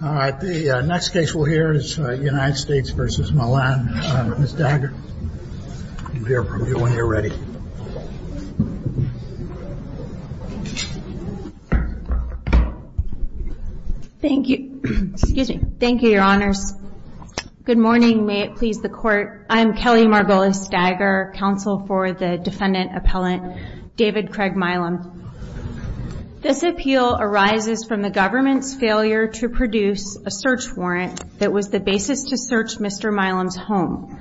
All right, the next case we'll hear is United States v. Milam. Ms. Dagger, you can Good morning. May it please the Court, I'm Kelly Margolis Dagger, counsel for the defendant appellant David Craig Milam. This appeal arises from the government's failure to produce a search warrant that was the basis to search Mr. Milam's home.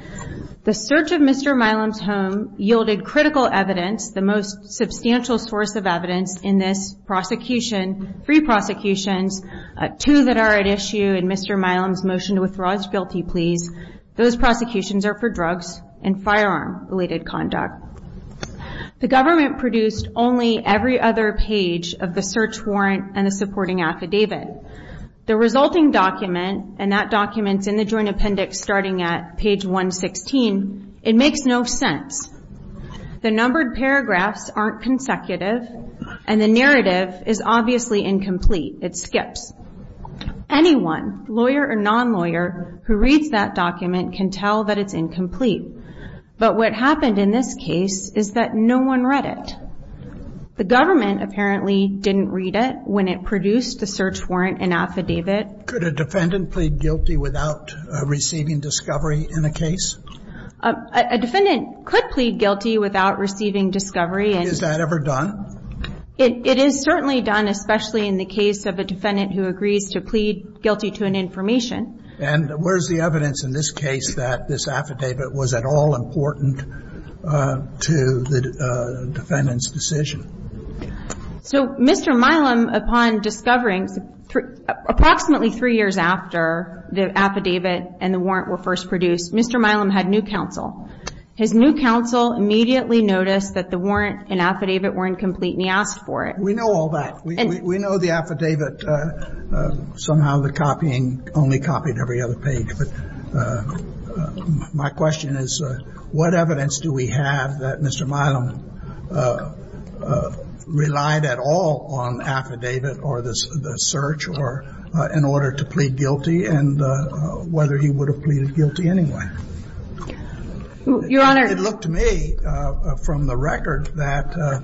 The search of Mr. Milam's home yielded critical evidence, the most substantial source of evidence in this prosecution, three prosecutions, two that are at issue, and Mr. Milam's motion to withdraw his bill of rights. The government produced only every other page of the search warrant and the supporting affidavit. The resulting document, and that document's in the joint appendix starting at page 116, it makes no sense. The numbered paragraphs aren't consecutive, and the narrative is obviously incomplete. It skips. Anyone, lawyer or non-lawyer, who reads that document can tell that it's incomplete. But what happened in this case is that no one read it. The government apparently didn't read it when it produced the search warrant and affidavit. Could a defendant plead guilty without receiving discovery in a case? A defendant could plead guilty without receiving discovery. Is that ever done? It is certainly done, especially in the case of a defendant who agrees to plead guilty to an information. And where's the evidence in this case that this affidavit was at all important to the defendant's decision? So Mr. Milam, upon discovering, approximately three years after the affidavit and the warrant were first produced, Mr. Milam had new counsel. His new counsel immediately noticed that the warrant and affidavit weren't complete, and he asked for it. We know all that. We know the affidavit. Somehow the copying only copied every other page. But my question is, what evidence do we have that Mr. Milam relied at all on affidavit or the search in order to plead guilty, and whether he would have pleaded guilty anyway? Your Honor. It looked to me from the record that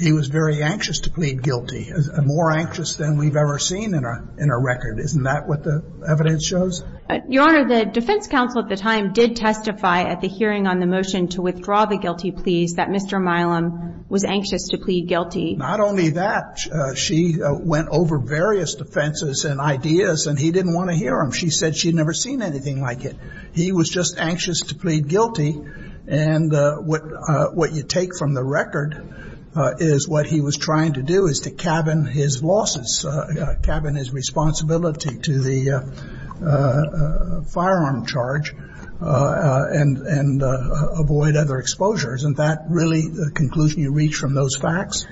he was very anxious to plead guilty, more anxious than we've ever seen in a record. Isn't that what the evidence shows? Your Honor, the defense counsel at the time did testify at the hearing on the motion to withdraw the guilty pleas that Mr. Milam was anxious to plead guilty. Not only that, she went over various defenses and ideas, and he didn't want to hear them. She said she'd never seen anything like it. He was just anxious to plead guilty. And what you take from the record is what he was trying to do is to cabin his losses, cabin his responsibility to the firearm charge and avoid other exposures. Isn't that really the conclusion you reach from those facts?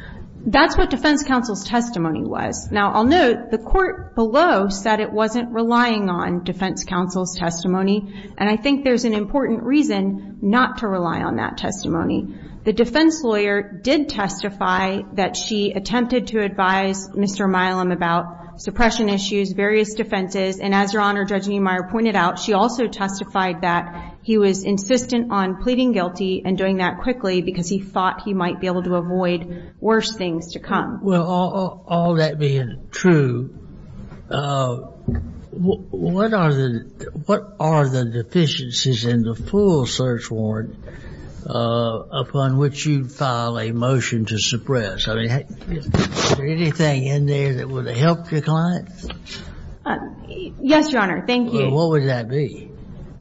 That's what defense counsel's testimony was. Now I'll note the court below said it wasn't relying on defense counsel's testimony. And I think there's an important reason not to rely on that testimony. The defense lawyer did testify that she attempted to advise Mr. Milam about suppression issues, various defenses. And as Your Honor, Judge Niemeyer pointed out, she also testified that he was insistent on pleading guilty and doing that quickly because he thought he might be able to avoid worse things to come. Well, all that being true, what are the deficiencies in the full search warrant upon which you file a motion to suppress? I mean, is there anything in there that would help your client? Yes, Your Honor. Thank you. What would that be?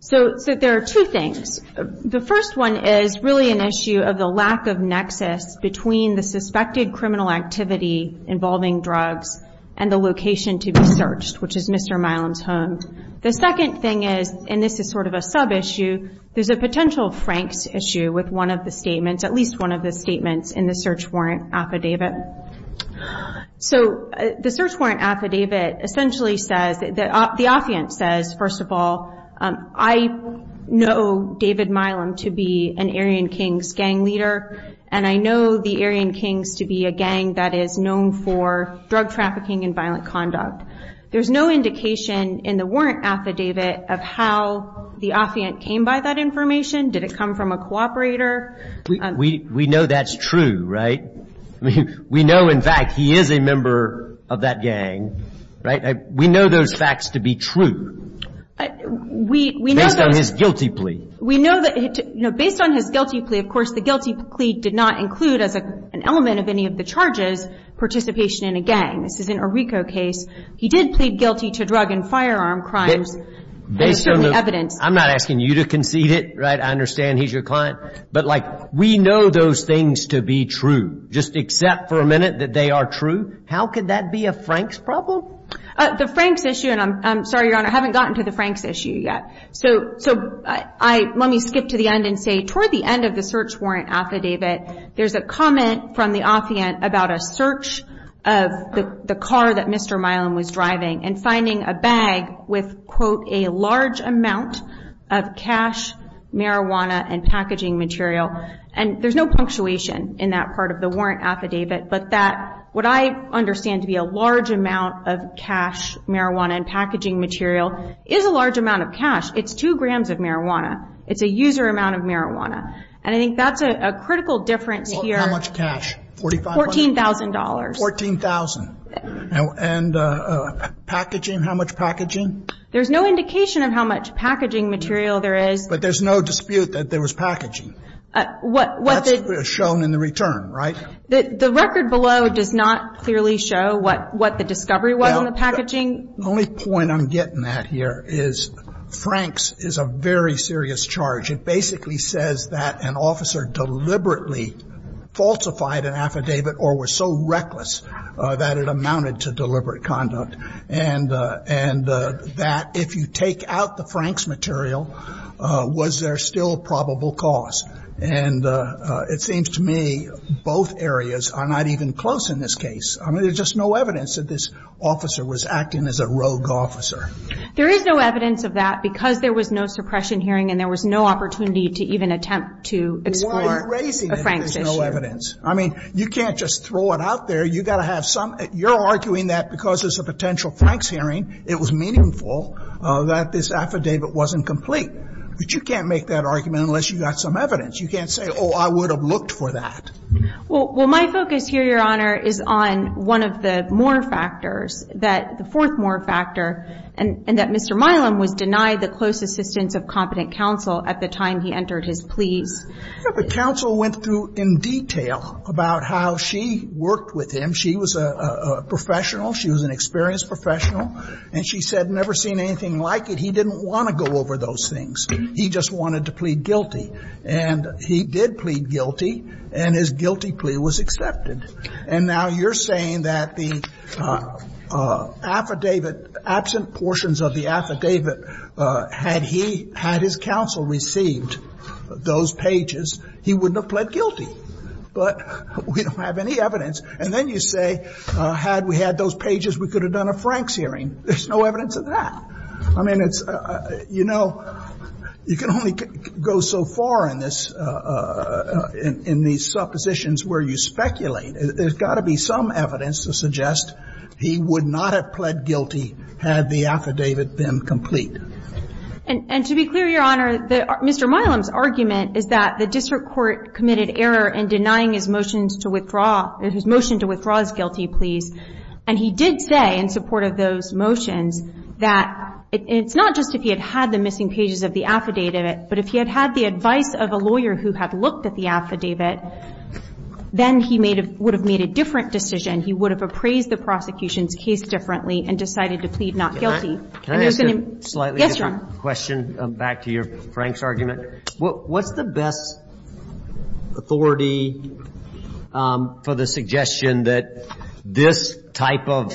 So there are two things. The first one is really an issue of the lack of nexus between the suspected criminal activity involving drugs and the location to be searched, which is Mr. Milam's home. The second thing is, and this is sort of a sub-issue, there's a potential franks issue with one of the statements, at least one of the statements in the search warrant affidavit. So the search warrant affidavit essentially says, the affiant says, first of all, I know David Milam to be an Aryan Kings gang leader, and I know the Aryan Kings to be a gang that is known for drug trafficking and violent conduct. There's no indication in the warrant affidavit of how the affiant came by that information. Did it come from a cooperator? We know that's true, right? We know, in fact, he is a member of that gang, right? We know those facts to be true based on his guilty plea. We know that, you know, based on his guilty plea, of course, the guilty plea did not include as an element of any of the charges participation in a gang. This is an Arrico case. He did plead guilty to drug and firearm crimes. Based on the evidence. I'm not asking you to concede it, right? I understand he's your client. But, like, we know those things to be true. Just accept for a minute that they are true. How could that be a Frank's problem? The Frank's issue, and I'm sorry, Your Honor, I haven't gotten to the Frank's issue yet. So let me skip to the end and say, toward the end of the search warrant affidavit, there's a comment from the affiant about a search of the car that Mr. Milam was driving and finding a bag with, quote, a large amount of cash, marijuana, and packaging material. And there's no punctuation in that part of the warrant affidavit. But what I understand to be a large amount of cash, marijuana, and packaging material is a large amount of cash. It's two grams of marijuana. It's a user amount of marijuana. And I think that's a critical difference here. How much cash? $14,000. $14,000. And packaging, how much packaging? There's no indication of how much packaging material there is. But there's no dispute that there was packaging. That's shown in the return, right? The record below does not clearly show what the discovery was on the packaging. The only point I'm getting at here is Frank's is a very serious charge. It basically says that an officer deliberately falsified an affidavit or was so reckless that it amounted to deliberate conduct. And that if you take out the Frank's material, was there still probable cause? And it seems to me both areas are not even close in this case. I mean, there's just no evidence that this officer was acting as a rogue officer. There is no evidence of that because there was no suppression hearing and there was no opportunity to even attempt to explore a Frank's issue. Why are you raising it if there's no evidence? I mean, you can't just throw it out there. You've got to have some. You're arguing that because there's a potential Frank's hearing, it was meaningful that this affidavit wasn't complete. But you can't make that argument unless you've got some evidence. You can't say, oh, I would have looked for that. Well, my focus here, Your Honor, is on one of the more factors, the fourth more factor, and that Mr. Milam was denied the close assistance of competent counsel at the time he entered his pleas. The counsel went through in detail about how she worked with him. She was a professional. She was an experienced professional. And she said, never seen anything like it. He didn't want to go over those things. He just wanted to plead guilty. And he did plead guilty, and his guilty plea was accepted. And now you're saying that the affidavit, absent portions of the affidavit, had he had his counsel received those pages, he wouldn't have pled guilty. But we don't have any evidence. And then you say, had we had those pages, we could have done a Frank's hearing. There's no evidence of that. I mean, it's, you know, you can only go so far in this, in these suppositions where you speculate. There's got to be some evidence to suggest he would not have pled guilty had the affidavit been complete. And to be clear, Your Honor, Mr. Milam's argument is that the district court committed error in denying his motions to withdraw, his motion to withdraw his guilty pleas. And he did say, in support of those motions, that it's not just if he had had the missing pages of the affidavit, but if he had had the advice of a lawyer who had looked at the affidavit, then he would have made a different decision. He would have appraised the prosecution's case differently and decided to plead not guilty. Can I ask a slightly different question back to your Frank's argument? What's the best authority for the suggestion that this type of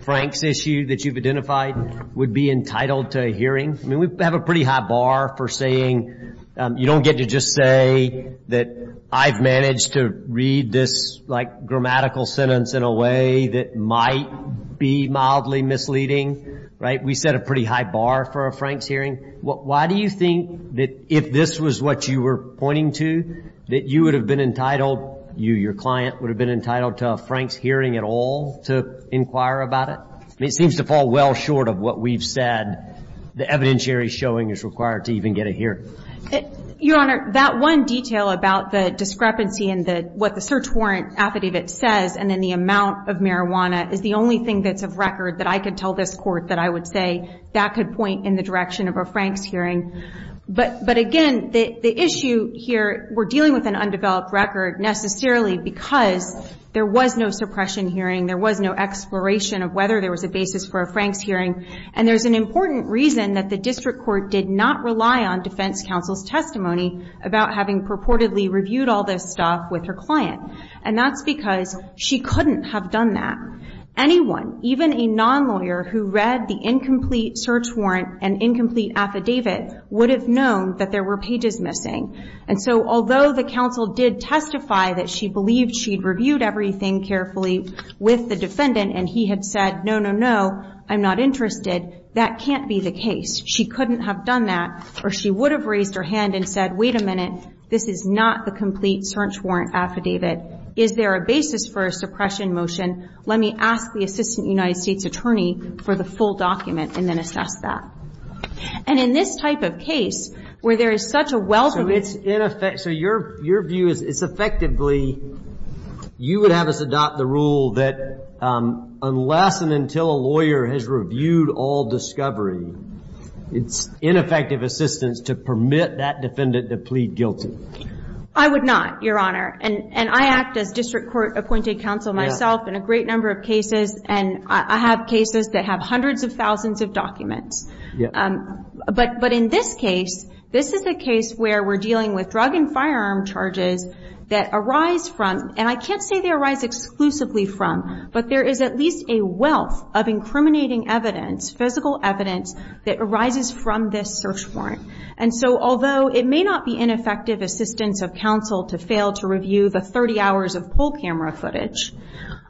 Frank's issue that you've identified would be entitled to a hearing? I mean, we have a pretty high bar for saying you don't get to just say that I've managed to read this, like, grammatical sentence in a way that might be mildly misleading. Right? We set a pretty high bar for a Frank's hearing. Why do you think that if this was what you were pointing to, that you would have been entitled, you, your client, would have been entitled to a Frank's hearing at all to inquire about it? I mean, it seems to fall well short of what we've said. The evidentiary showing is required to even get a hearing. Your Honor, that one detail about the discrepancy in what the search warrant affidavit says and then the amount of marijuana is the only thing that's of record that I could tell this Court that I would say that could point in the direction of a Frank's hearing. But again, the issue here, we're dealing with an undeveloped record necessarily because there was no suppression hearing, there was no exploration of whether there was a basis for a Frank's hearing. And there's an important reason that the district court did not rely on defense counsel's testimony about having purportedly reviewed all this stuff with her client. And that's because she couldn't have done that. Anyone, even a non-lawyer who read the incomplete search warrant and incomplete affidavit would have known that there were pages missing. And so although the counsel did testify that she believed she'd reviewed everything carefully with the defendant and he had said, no, no, no, I'm not interested, that can't be the case. She couldn't have done that or she would have raised her hand and said, wait a minute, this is an incomplete search warrant affidavit, is there a basis for a suppression motion? Let me ask the assistant United States attorney for the full document and then assess that. And in this type of case where there is such a wealth of information. So your view is it's effectively, you would have us adopt the rule that unless and until a lawyer has reviewed all discovery, it's ineffective assistance to permit that defendant to plead guilty. I would not, Your Honor. And I act as district court appointed counsel myself in a great number of cases and I have cases that have hundreds of thousands of documents. But in this case, this is a case where we're dealing with drug and firearm charges that arise from, and I can't say they arise exclusively from, but there is at least a wealth of incriminating evidence, physical evidence that arises from this search warrant. And so although it may not be ineffective assistance of counsel to fail to review the 30 hours of full camera footage,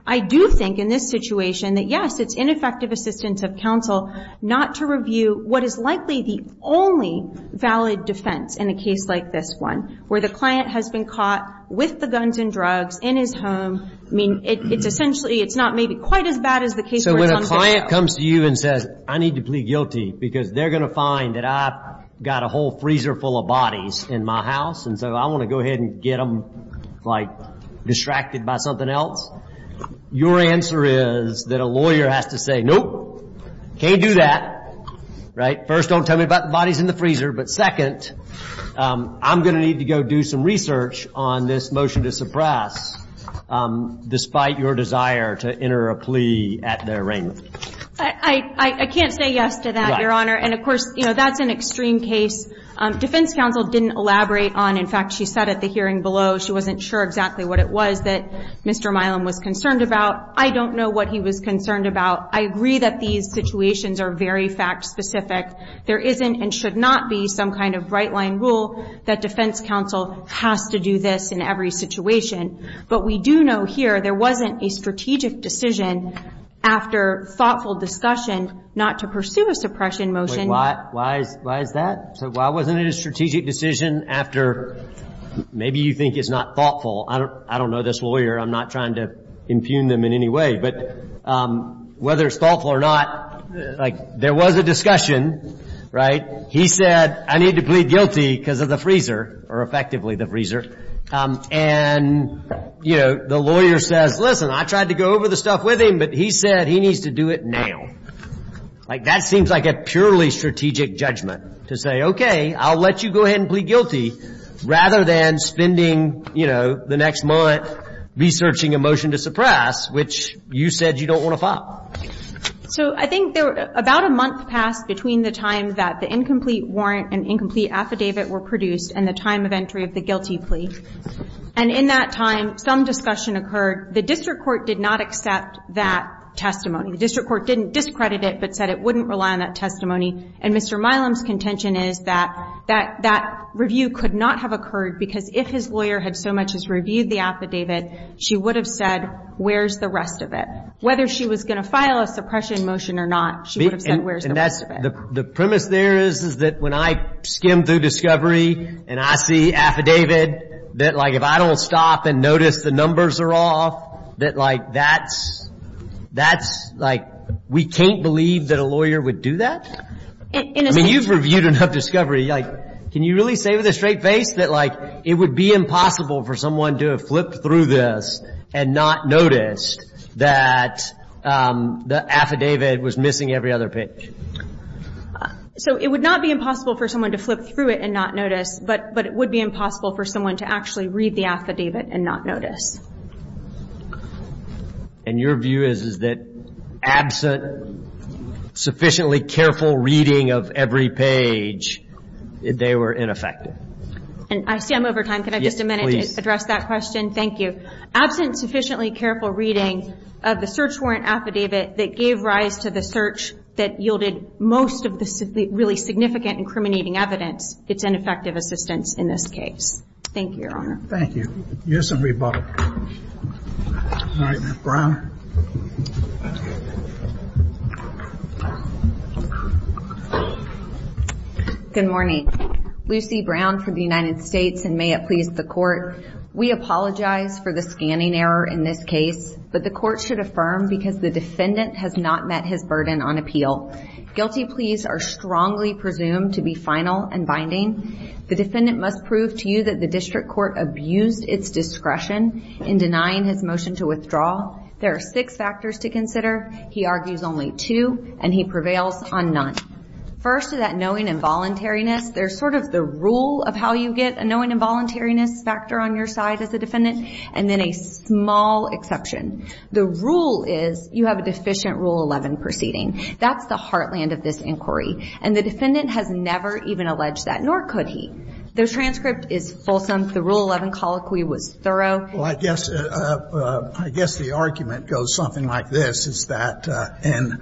I do think in this situation that yes, it's ineffective assistance of counsel not to review what is likely the only valid defense in a case like this one, where the client has been caught with the guns and drugs in his home. I mean, it's essentially, it's not maybe quite as bad as the case. So when a client comes to you and says, I need to plead guilty because they're going to find that I've got a whole freezer full of bodies in my house. And so I want to go ahead and get them, like, distracted by something else. Your answer is that a lawyer has to say, nope, can't do that. Right? First, don't tell me about the bodies in the freezer. But second, I'm going to need to go do some research on this motion to suppress despite your desire to enter a plea at their arraignment. I can't say yes to that, Your Honor. And, of course, that's an extreme case. Defense counsel didn't elaborate on, in fact, she said at the hearing below, she wasn't sure exactly what it was that Mr. Milam was concerned about. I don't know what he was concerned about. I agree that these situations are very fact-specific. There isn't and should not be some kind of right-line rule that defense counsel has to do this in every situation. But we do know here there wasn't a strategic decision after thoughtful discussion not to pursue a suppression motion. Wait, why is that? Why wasn't it a strategic decision after maybe you think it's not thoughtful? I don't know this lawyer. I'm not trying to impugn them in any way. But whether it's thoughtful or not, like, there was a discussion, right? He said, I need to plead guilty because of the freezer or effectively the freezer. And, you know, the lawyer says, listen, I tried to go over the stuff with him, but he said he needs to do it now. Like, that seems like a purely strategic judgment to say, okay, I'll let you go ahead and plead guilty rather than spending, you know, the next month researching a motion to suppress, which you said you don't want to file. So I think about a month passed between the time that the incomplete warrant and incomplete affidavit were produced and the time of entry of the guilty plea. And in that time, some discussion occurred. The district court did not accept that testimony. The district court didn't discredit it but said it wouldn't rely on that testimony. And Mr. Milam's contention is that that review could not have occurred because if his lawyer had so much as reviewed the affidavit, she would have said, where's the rest of it? Whether she was going to file a suppression motion or not, she would have said, where's the rest of it? The premise there is that when I skim through discovery and I see affidavit, that, like, if I don't stop and notice the numbers are off, that, like, that's, like, we can't believe that a lawyer would do that? I mean, you've reviewed enough discovery. Like, can you really say with a straight face that, like, it would be impossible for someone to have flipped through this and not noticed that the affidavit was missing every other page? So it would not be impossible for someone to flip through it and not notice, but it would be impossible for someone to actually read the affidavit and not notice. And your view is that absent sufficiently careful reading of every page, they were ineffective? I see I'm over time. Can I have just a minute to address that question? Yes, please. Thank you. Absent sufficiently careful reading of the search warrant affidavit that gave rise to the search that yielded most of the really significant incriminating evidence, it's ineffective assistance in this case. Thank you, Your Honor. Thank you. Yes, and rebuttal. All right, now, Brown. Good morning. Lucy Brown from the United States, and may it please the Court, we apologize for the scanning error in this case, but the Court should affirm because the defendant has not met his burden on appeal. Guilty pleas are strongly presumed to be final and binding. The defendant must prove to you that the district court abused its discretion in denying his motion to withdraw. There are six factors to consider. He argues only two, and he prevails on none. First is that knowing involuntariness. There's sort of the rule of how you get a knowing involuntariness factor on your side as a defendant, and then a small exception. The rule is you have a deficient Rule 11 proceeding. That's the heartland of this inquiry. And the defendant has never even alleged that, nor could he. The transcript is fulsome. The Rule 11 colloquy was thorough. Well, I guess the argument goes something like this, is that in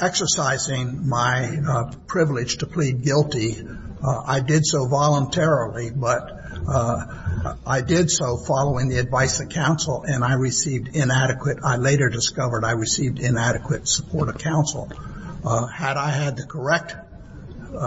exercising my privilege to plead guilty, I did so voluntarily, but I did so following the advice of counsel, and I received inadequate. I later discovered I received inadequate support of counsel. Had I had the correct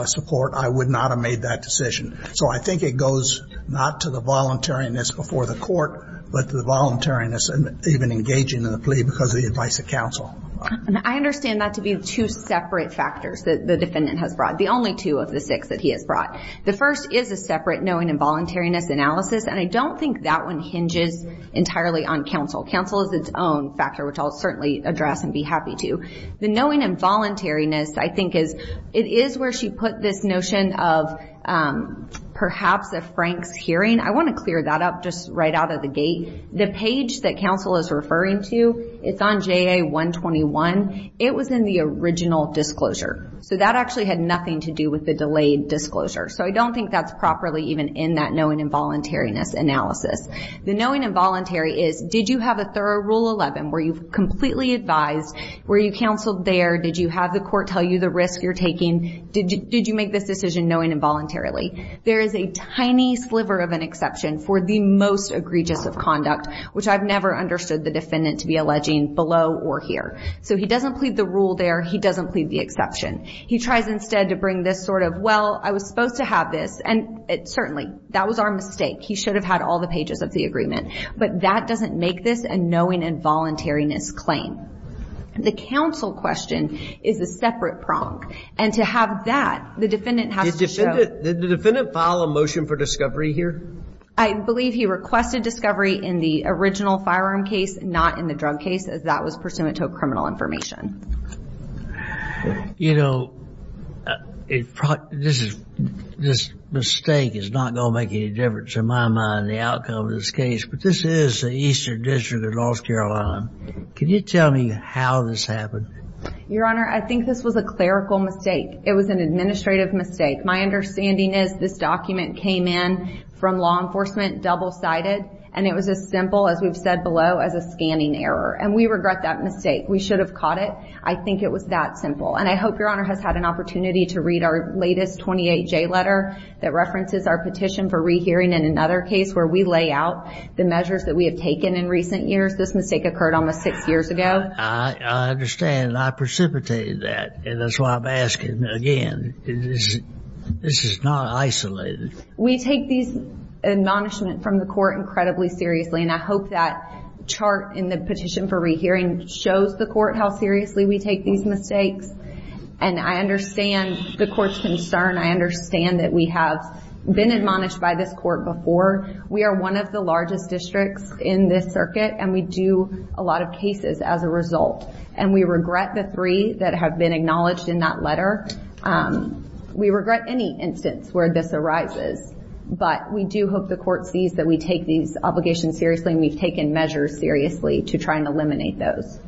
support, I would not have made that decision. So I think it goes not to the voluntariness before the court, but the voluntariness even engaging in the plea because of the advice of counsel. I understand that to be two separate factors that the defendant has brought, the only two of the six that he has brought. The first is a separate knowing involuntariness analysis, and I don't think that one hinges entirely on counsel. Counsel is its own factor, which I'll certainly address and be happy to. The knowing involuntariness, I think, is it is where she put this notion of perhaps a Frank's hearing. I want to clear that up just right out of the gate. The page that counsel is referring to, it's on JA 121. It was in the original disclosure. So that actually had nothing to do with the delayed disclosure. So I don't think that's properly even in that knowing involuntariness analysis. The knowing involuntary is did you have a thorough Rule 11 where you've completely advised, were you counseled there, did you have the court tell you the risk you're taking, did you make this decision knowing involuntarily. There is a tiny sliver of an exception for the most egregious of conduct, which I've never understood the defendant to be alleging below or here. So he doesn't plead the rule there. He doesn't plead the exception. He tries instead to bring this sort of, well, I was supposed to have this. And certainly that was our mistake. He should have had all the pages of the agreement. But that doesn't make this a knowing involuntariness claim. The counsel question is a separate prong. And to have that, the defendant has to show. Did the defendant file a motion for discovery here? I believe he requested discovery in the original firearm case, not in the drug case as that was pursuant to a criminal information. You know, this mistake is not going to make any difference in my mind, the outcome of this case. But this is the Eastern District of North Carolina. Can you tell me how this happened? Your Honor, I think this was a clerical mistake. It was an administrative mistake. My understanding is this document came in from law enforcement, double-sided. And it was as simple, as we've said below, as a scanning error. And we regret that mistake. We should have caught it. I think it was that simple. And I hope Your Honor has had an opportunity to read our latest 28J letter that references our petition for rehearing in another case where we lay out the measures that we have taken in recent years. This mistake occurred almost six years ago. I understand. And I precipitated that. And that's why I'm asking again. This is not isolated. We take these admonishments from the court incredibly seriously. And I hope that chart in the petition for rehearing shows the court how seriously we take these mistakes. And I understand the court's concern. I understand that we have been admonished by this court before. We are one of the largest districts in this circuit. And we do a lot of cases as a result. And we regret the three that have been acknowledged in that letter. We regret any instance where this arises. But we do hope the court sees that we take these obligations seriously and we've taken measures seriously to try and eliminate those.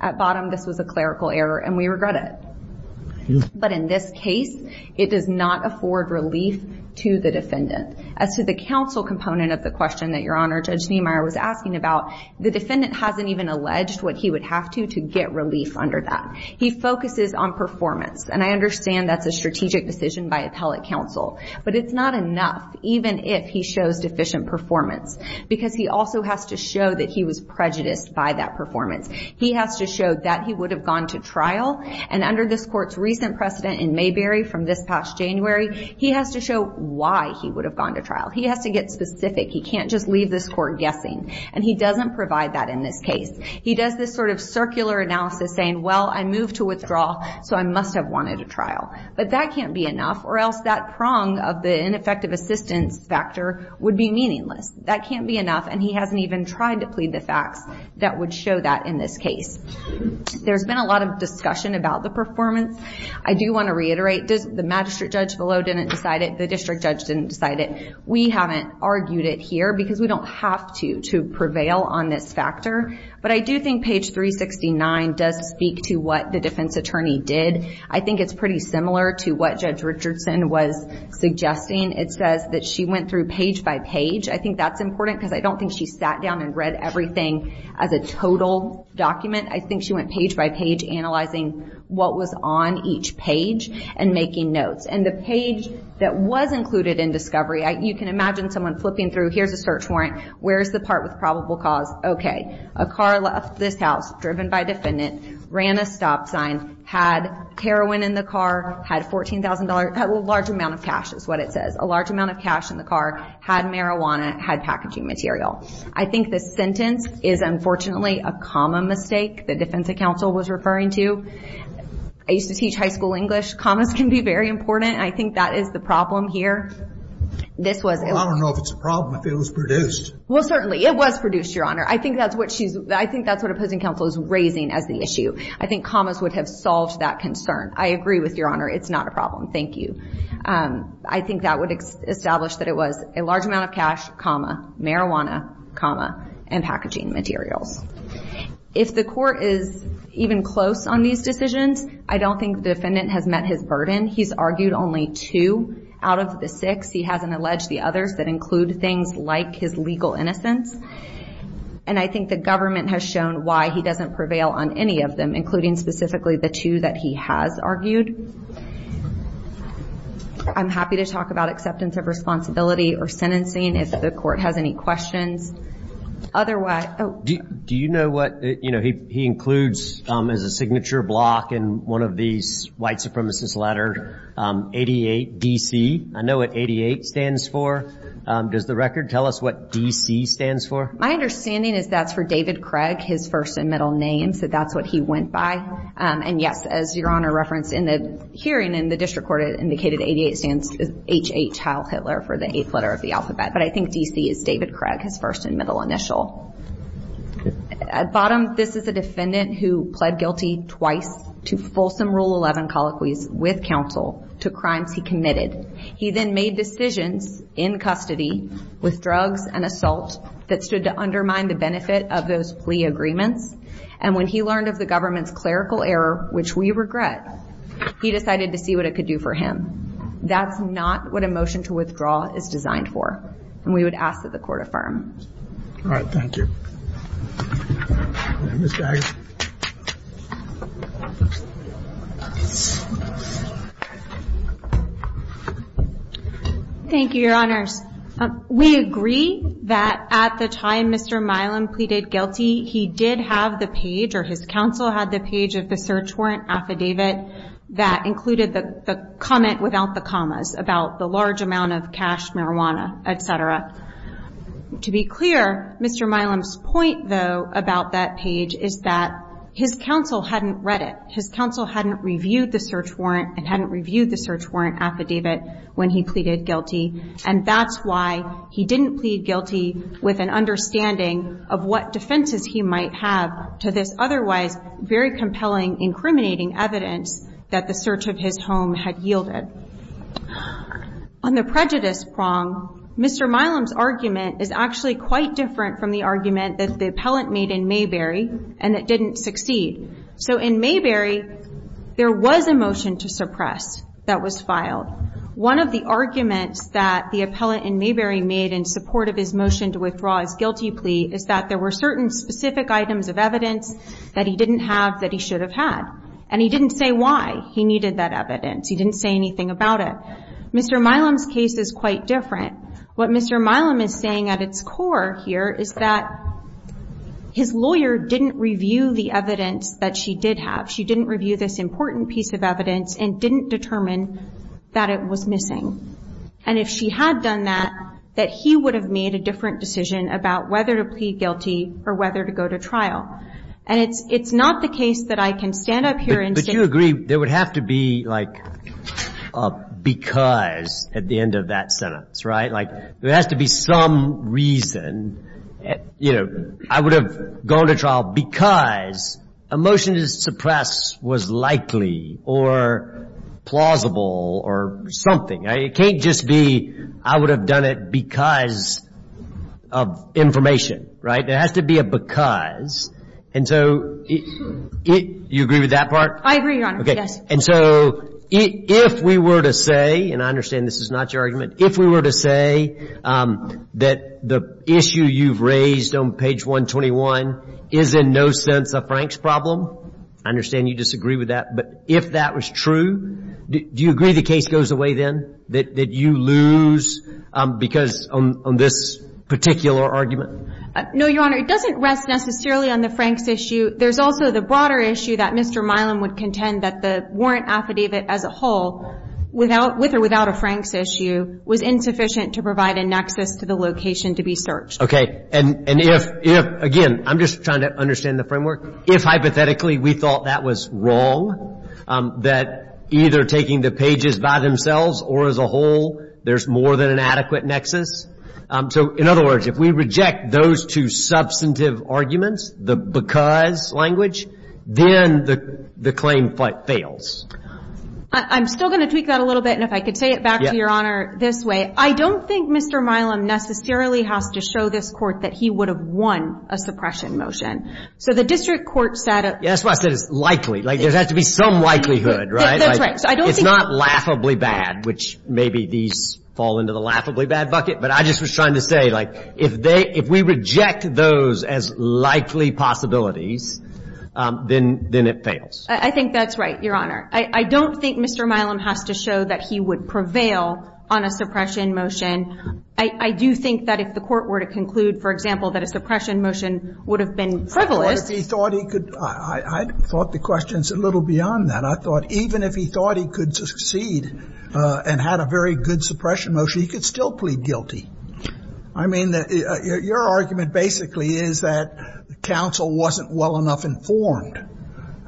At bottom, this was a clerical error. And we regret it. But in this case, it does not afford relief to the defendant. As to the counsel component of the question that Your Honor, Judge Niemeyer, was asking about, the defendant hasn't even alleged what he would have to to get relief under that. He focuses on performance. And I understand that's a strategic decision by appellate counsel. But it's not enough, even if he shows deficient performance. Because he also has to show that he was prejudiced by that performance. He has to show that he would have gone to trial. And under this court's recent precedent in Mayberry from this past January, he has to show why he would have gone to trial. He has to get specific. He can't just leave this court guessing. And he doesn't provide that in this case. He does this sort of circular analysis saying, well, I moved to withdraw, so I must have wanted a trial. But that can't be enough. Or else that prong of the ineffective assistance factor would be meaningless. That can't be enough. And he hasn't even tried to plead the facts that would show that in this case. There's been a lot of discussion about the performance. I do want to reiterate, the magistrate judge below didn't decide it. The district judge didn't decide it. We haven't argued it here, because we don't have to, to prevail on this factor. But I do think page 369 does speak to what the defense attorney did. I think it's pretty similar to what Judge Richardson was suggesting. It says that she went through page by page. I think that's important, because I don't think she sat down and read everything as a total document. I think she went page by page analyzing what was on each page and making notes. And the page that was included in discovery, you can imagine someone flipping through, here's a search warrant, where's the part with probable cause? Okay, a car left this house, driven by a defendant, ran a stop sign, had heroin in the car, had $14,000, a large amount of cash is what it says, a large amount of cash in the car, had marijuana, had packaging material. I think this sentence is unfortunately a comma mistake the defense counsel was referring to. I used to teach high school English. Commas can be very important. I think that is the problem here. Well, I don't know if it's a problem, if it was produced. Well, certainly. It was produced, Your Honor. I think that's what opposing counsel is raising as the issue. I think commas would have solved that concern. I agree with Your Honor. It's not a problem. Thank you. I think that would establish that it was a large amount of cash, comma, marijuana, comma, and packaging materials. If the court is even close on these decisions, I don't think the defendant has met his burden. He's argued only two out of the six. He hasn't alleged the others that include things like his legal innocence. And I think the government has shown why he doesn't prevail on any of them, including specifically the two that he has argued. I'm happy to talk about acceptance of responsibility or sentencing if the court has any questions. Do you know what he includes as a signature block in one of these white supremacist letters? 88DC. I know what 88 stands for. Does the record tell us what DC stands for? My understanding is that's for David Craig, his first and middle name, so that's what he went by. And, yes, as Your Honor referenced in the hearing in the district court, it indicated 88 stands as HH Heil Hitler for the eighth letter of the alphabet. But I think DC is David Craig, his first and middle initial. At bottom, this is a defendant who pled guilty twice to fulsome Rule 11 colloquies with counsel to crimes he committed. He then made decisions in custody with drugs and assault that stood to undermine the benefit of those plea agreements. And when he learned of the government's clerical error, which we regret, he decided to see what it could do for him. That's not what a motion to withdraw is designed for, and we would ask that the court affirm. All right, thank you. Ms. Gage. Thank you, Your Honors. We agree that at the time Mr. Milam pleaded guilty, he did have the page or his counsel had the page of the search warrant affidavit that included the comment without the commas about the large amount of cash, marijuana, et cetera. To be clear, Mr. Milam's point, though, about that page is that his counsel hadn't read it. His counsel hadn't reviewed the search warrant and hadn't reviewed the search warrant affidavit when he pleaded guilty. And that's why he didn't plead guilty with an understanding of what defenses he might have to this otherwise very compelling, incriminating evidence that the search of his home had yielded. On the prejudice prong, Mr. Milam's argument is actually quite different from the argument that the appellant made in Mayberry and that didn't succeed. So in Mayberry, there was a motion to suppress that was filed. One of the arguments that the appellant in Mayberry made in support of his motion to withdraw his guilty plea is that there were certain specific items of evidence that he didn't have that he should have had, and he didn't say why he needed that evidence. He didn't say anything about it. Mr. Milam's case is quite different. What Mr. Milam is saying at its core here is that his lawyer didn't review the evidence that she did have. She didn't review this important piece of evidence and didn't determine that it was missing. And if she had done that, that he would have made a different decision about whether to plead guilty or whether to go to trial. And it's not the case that I can stand up here and say no. There has to be like a because at the end of that sentence, right? Like there has to be some reason, you know, I would have gone to trial because a motion to suppress was likely or plausible or something. It can't just be I would have done it because of information, right? There has to be a because. And so you agree with that part? I agree, Your Honor, yes. And so if we were to say, and I understand this is not your argument, if we were to say that the issue you've raised on page 121 is in no sense a Franks problem, I understand you disagree with that. But if that was true, do you agree the case goes away then, that you lose because on this particular argument? No, Your Honor. It doesn't rest necessarily on the Franks issue. There's also the broader issue that Mr. Milam would contend that the warrant affidavit as a whole, with or without a Franks issue, was insufficient to provide a nexus to the location to be searched. Okay. And if, again, I'm just trying to understand the framework, if hypothetically we thought that was wrong, that either taking the pages by themselves or as a whole, there's more than an adequate nexus. So, in other words, if we reject those two substantive arguments, the because language, then the claim fails. I'm still going to tweak that a little bit. And if I could say it back to Your Honor this way, I don't think Mr. Milam necessarily has to show this Court that he would have won a suppression motion. So the district court said it. That's why I said it's likely. There has to be some likelihood, right? That's right. It's not laughably bad, which maybe these fall into the laughably bad bucket, but I just was trying to say, like, if they, if we reject those as likely possibilities, then it fails. I think that's right, Your Honor. I don't think Mr. Milam has to show that he would prevail on a suppression motion. I do think that if the Court were to conclude, for example, that a suppression motion would have been frivolous. I thought if he thought he could, I thought the question's a little beyond that. I thought even if he thought he could succeed and had a very good suppression motion, he could still plead guilty. I mean, your argument basically is that counsel wasn't well enough informed,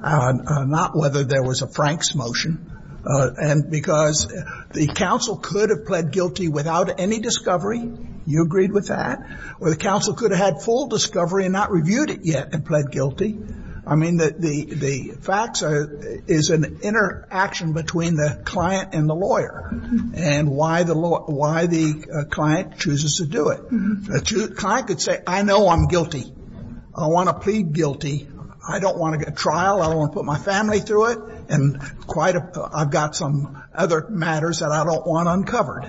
not whether there was a Franks motion, and because the counsel could have pled guilty without any discovery. You agreed with that. Or the counsel could have had full discovery and not reviewed it yet and pled guilty. I mean, the facts is an interaction between the client and the lawyer and why the client chooses to do it. A client could say, I know I'm guilty. I want to plead guilty. I don't want to get trial. I don't want to put my family through it, and I've got some other matters that I don't want uncovered.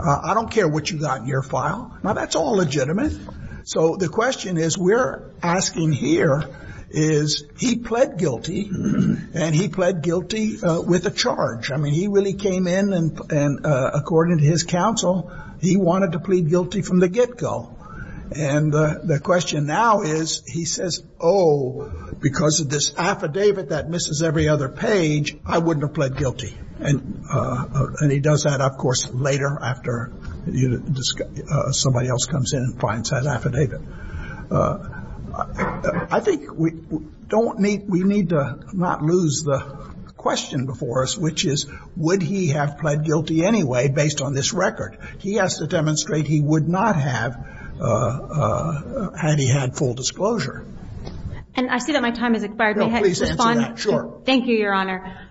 I don't care what you got in your file. Now, that's all legitimate. So the question is we're asking here is he pled guilty, and he pled guilty with a charge. I mean, he really came in and, according to his counsel, he wanted to plead guilty from the get-go. And the question now is he says, oh, because of this affidavit that misses every other page, I wouldn't have pled guilty. And he does that, of course, later after somebody else comes in and finds that affidavit. I think we need to not lose the question before us, which is would he have pled guilty anyway based on this record? He has to demonstrate he would not have had he had full disclosure. And I see that my time has expired. May I respond? No, please answer that. Sure. Thank you, Your Honor.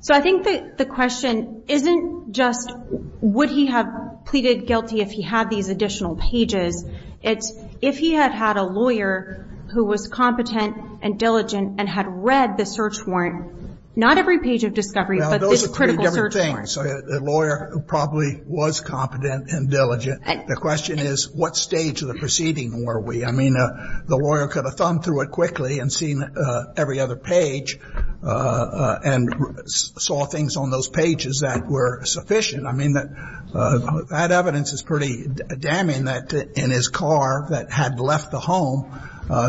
So I think the question isn't just would he have pleaded guilty if he had these additional pages. It's if he had had a lawyer who was competent and diligent and had read the search warrant, not every page of discovery, but this critical search warrant. Well, those are three different things. The lawyer probably was competent and diligent. The question is what stage of the proceeding were we? I mean, the lawyer could have thumbed through it quickly and seen every other page and saw things on those pages that were sufficient. I mean, that evidence is pretty damning that in his car that had left the home,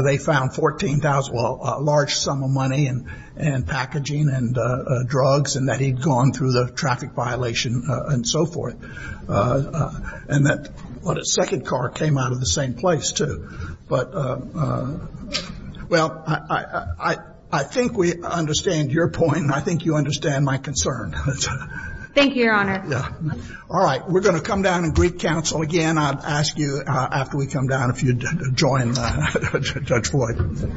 they found $14,000, well, a large sum of money and packaging and drugs, and that he'd gone through the traffic violation and so forth. And that second car came out of the same place, too. But, well, I think we understand your point, and I think you understand my concern. Thank you, Your Honor. All right. We're going to come down and greet counsel again. I'll ask you after we come down if you'd join Judge Floyd.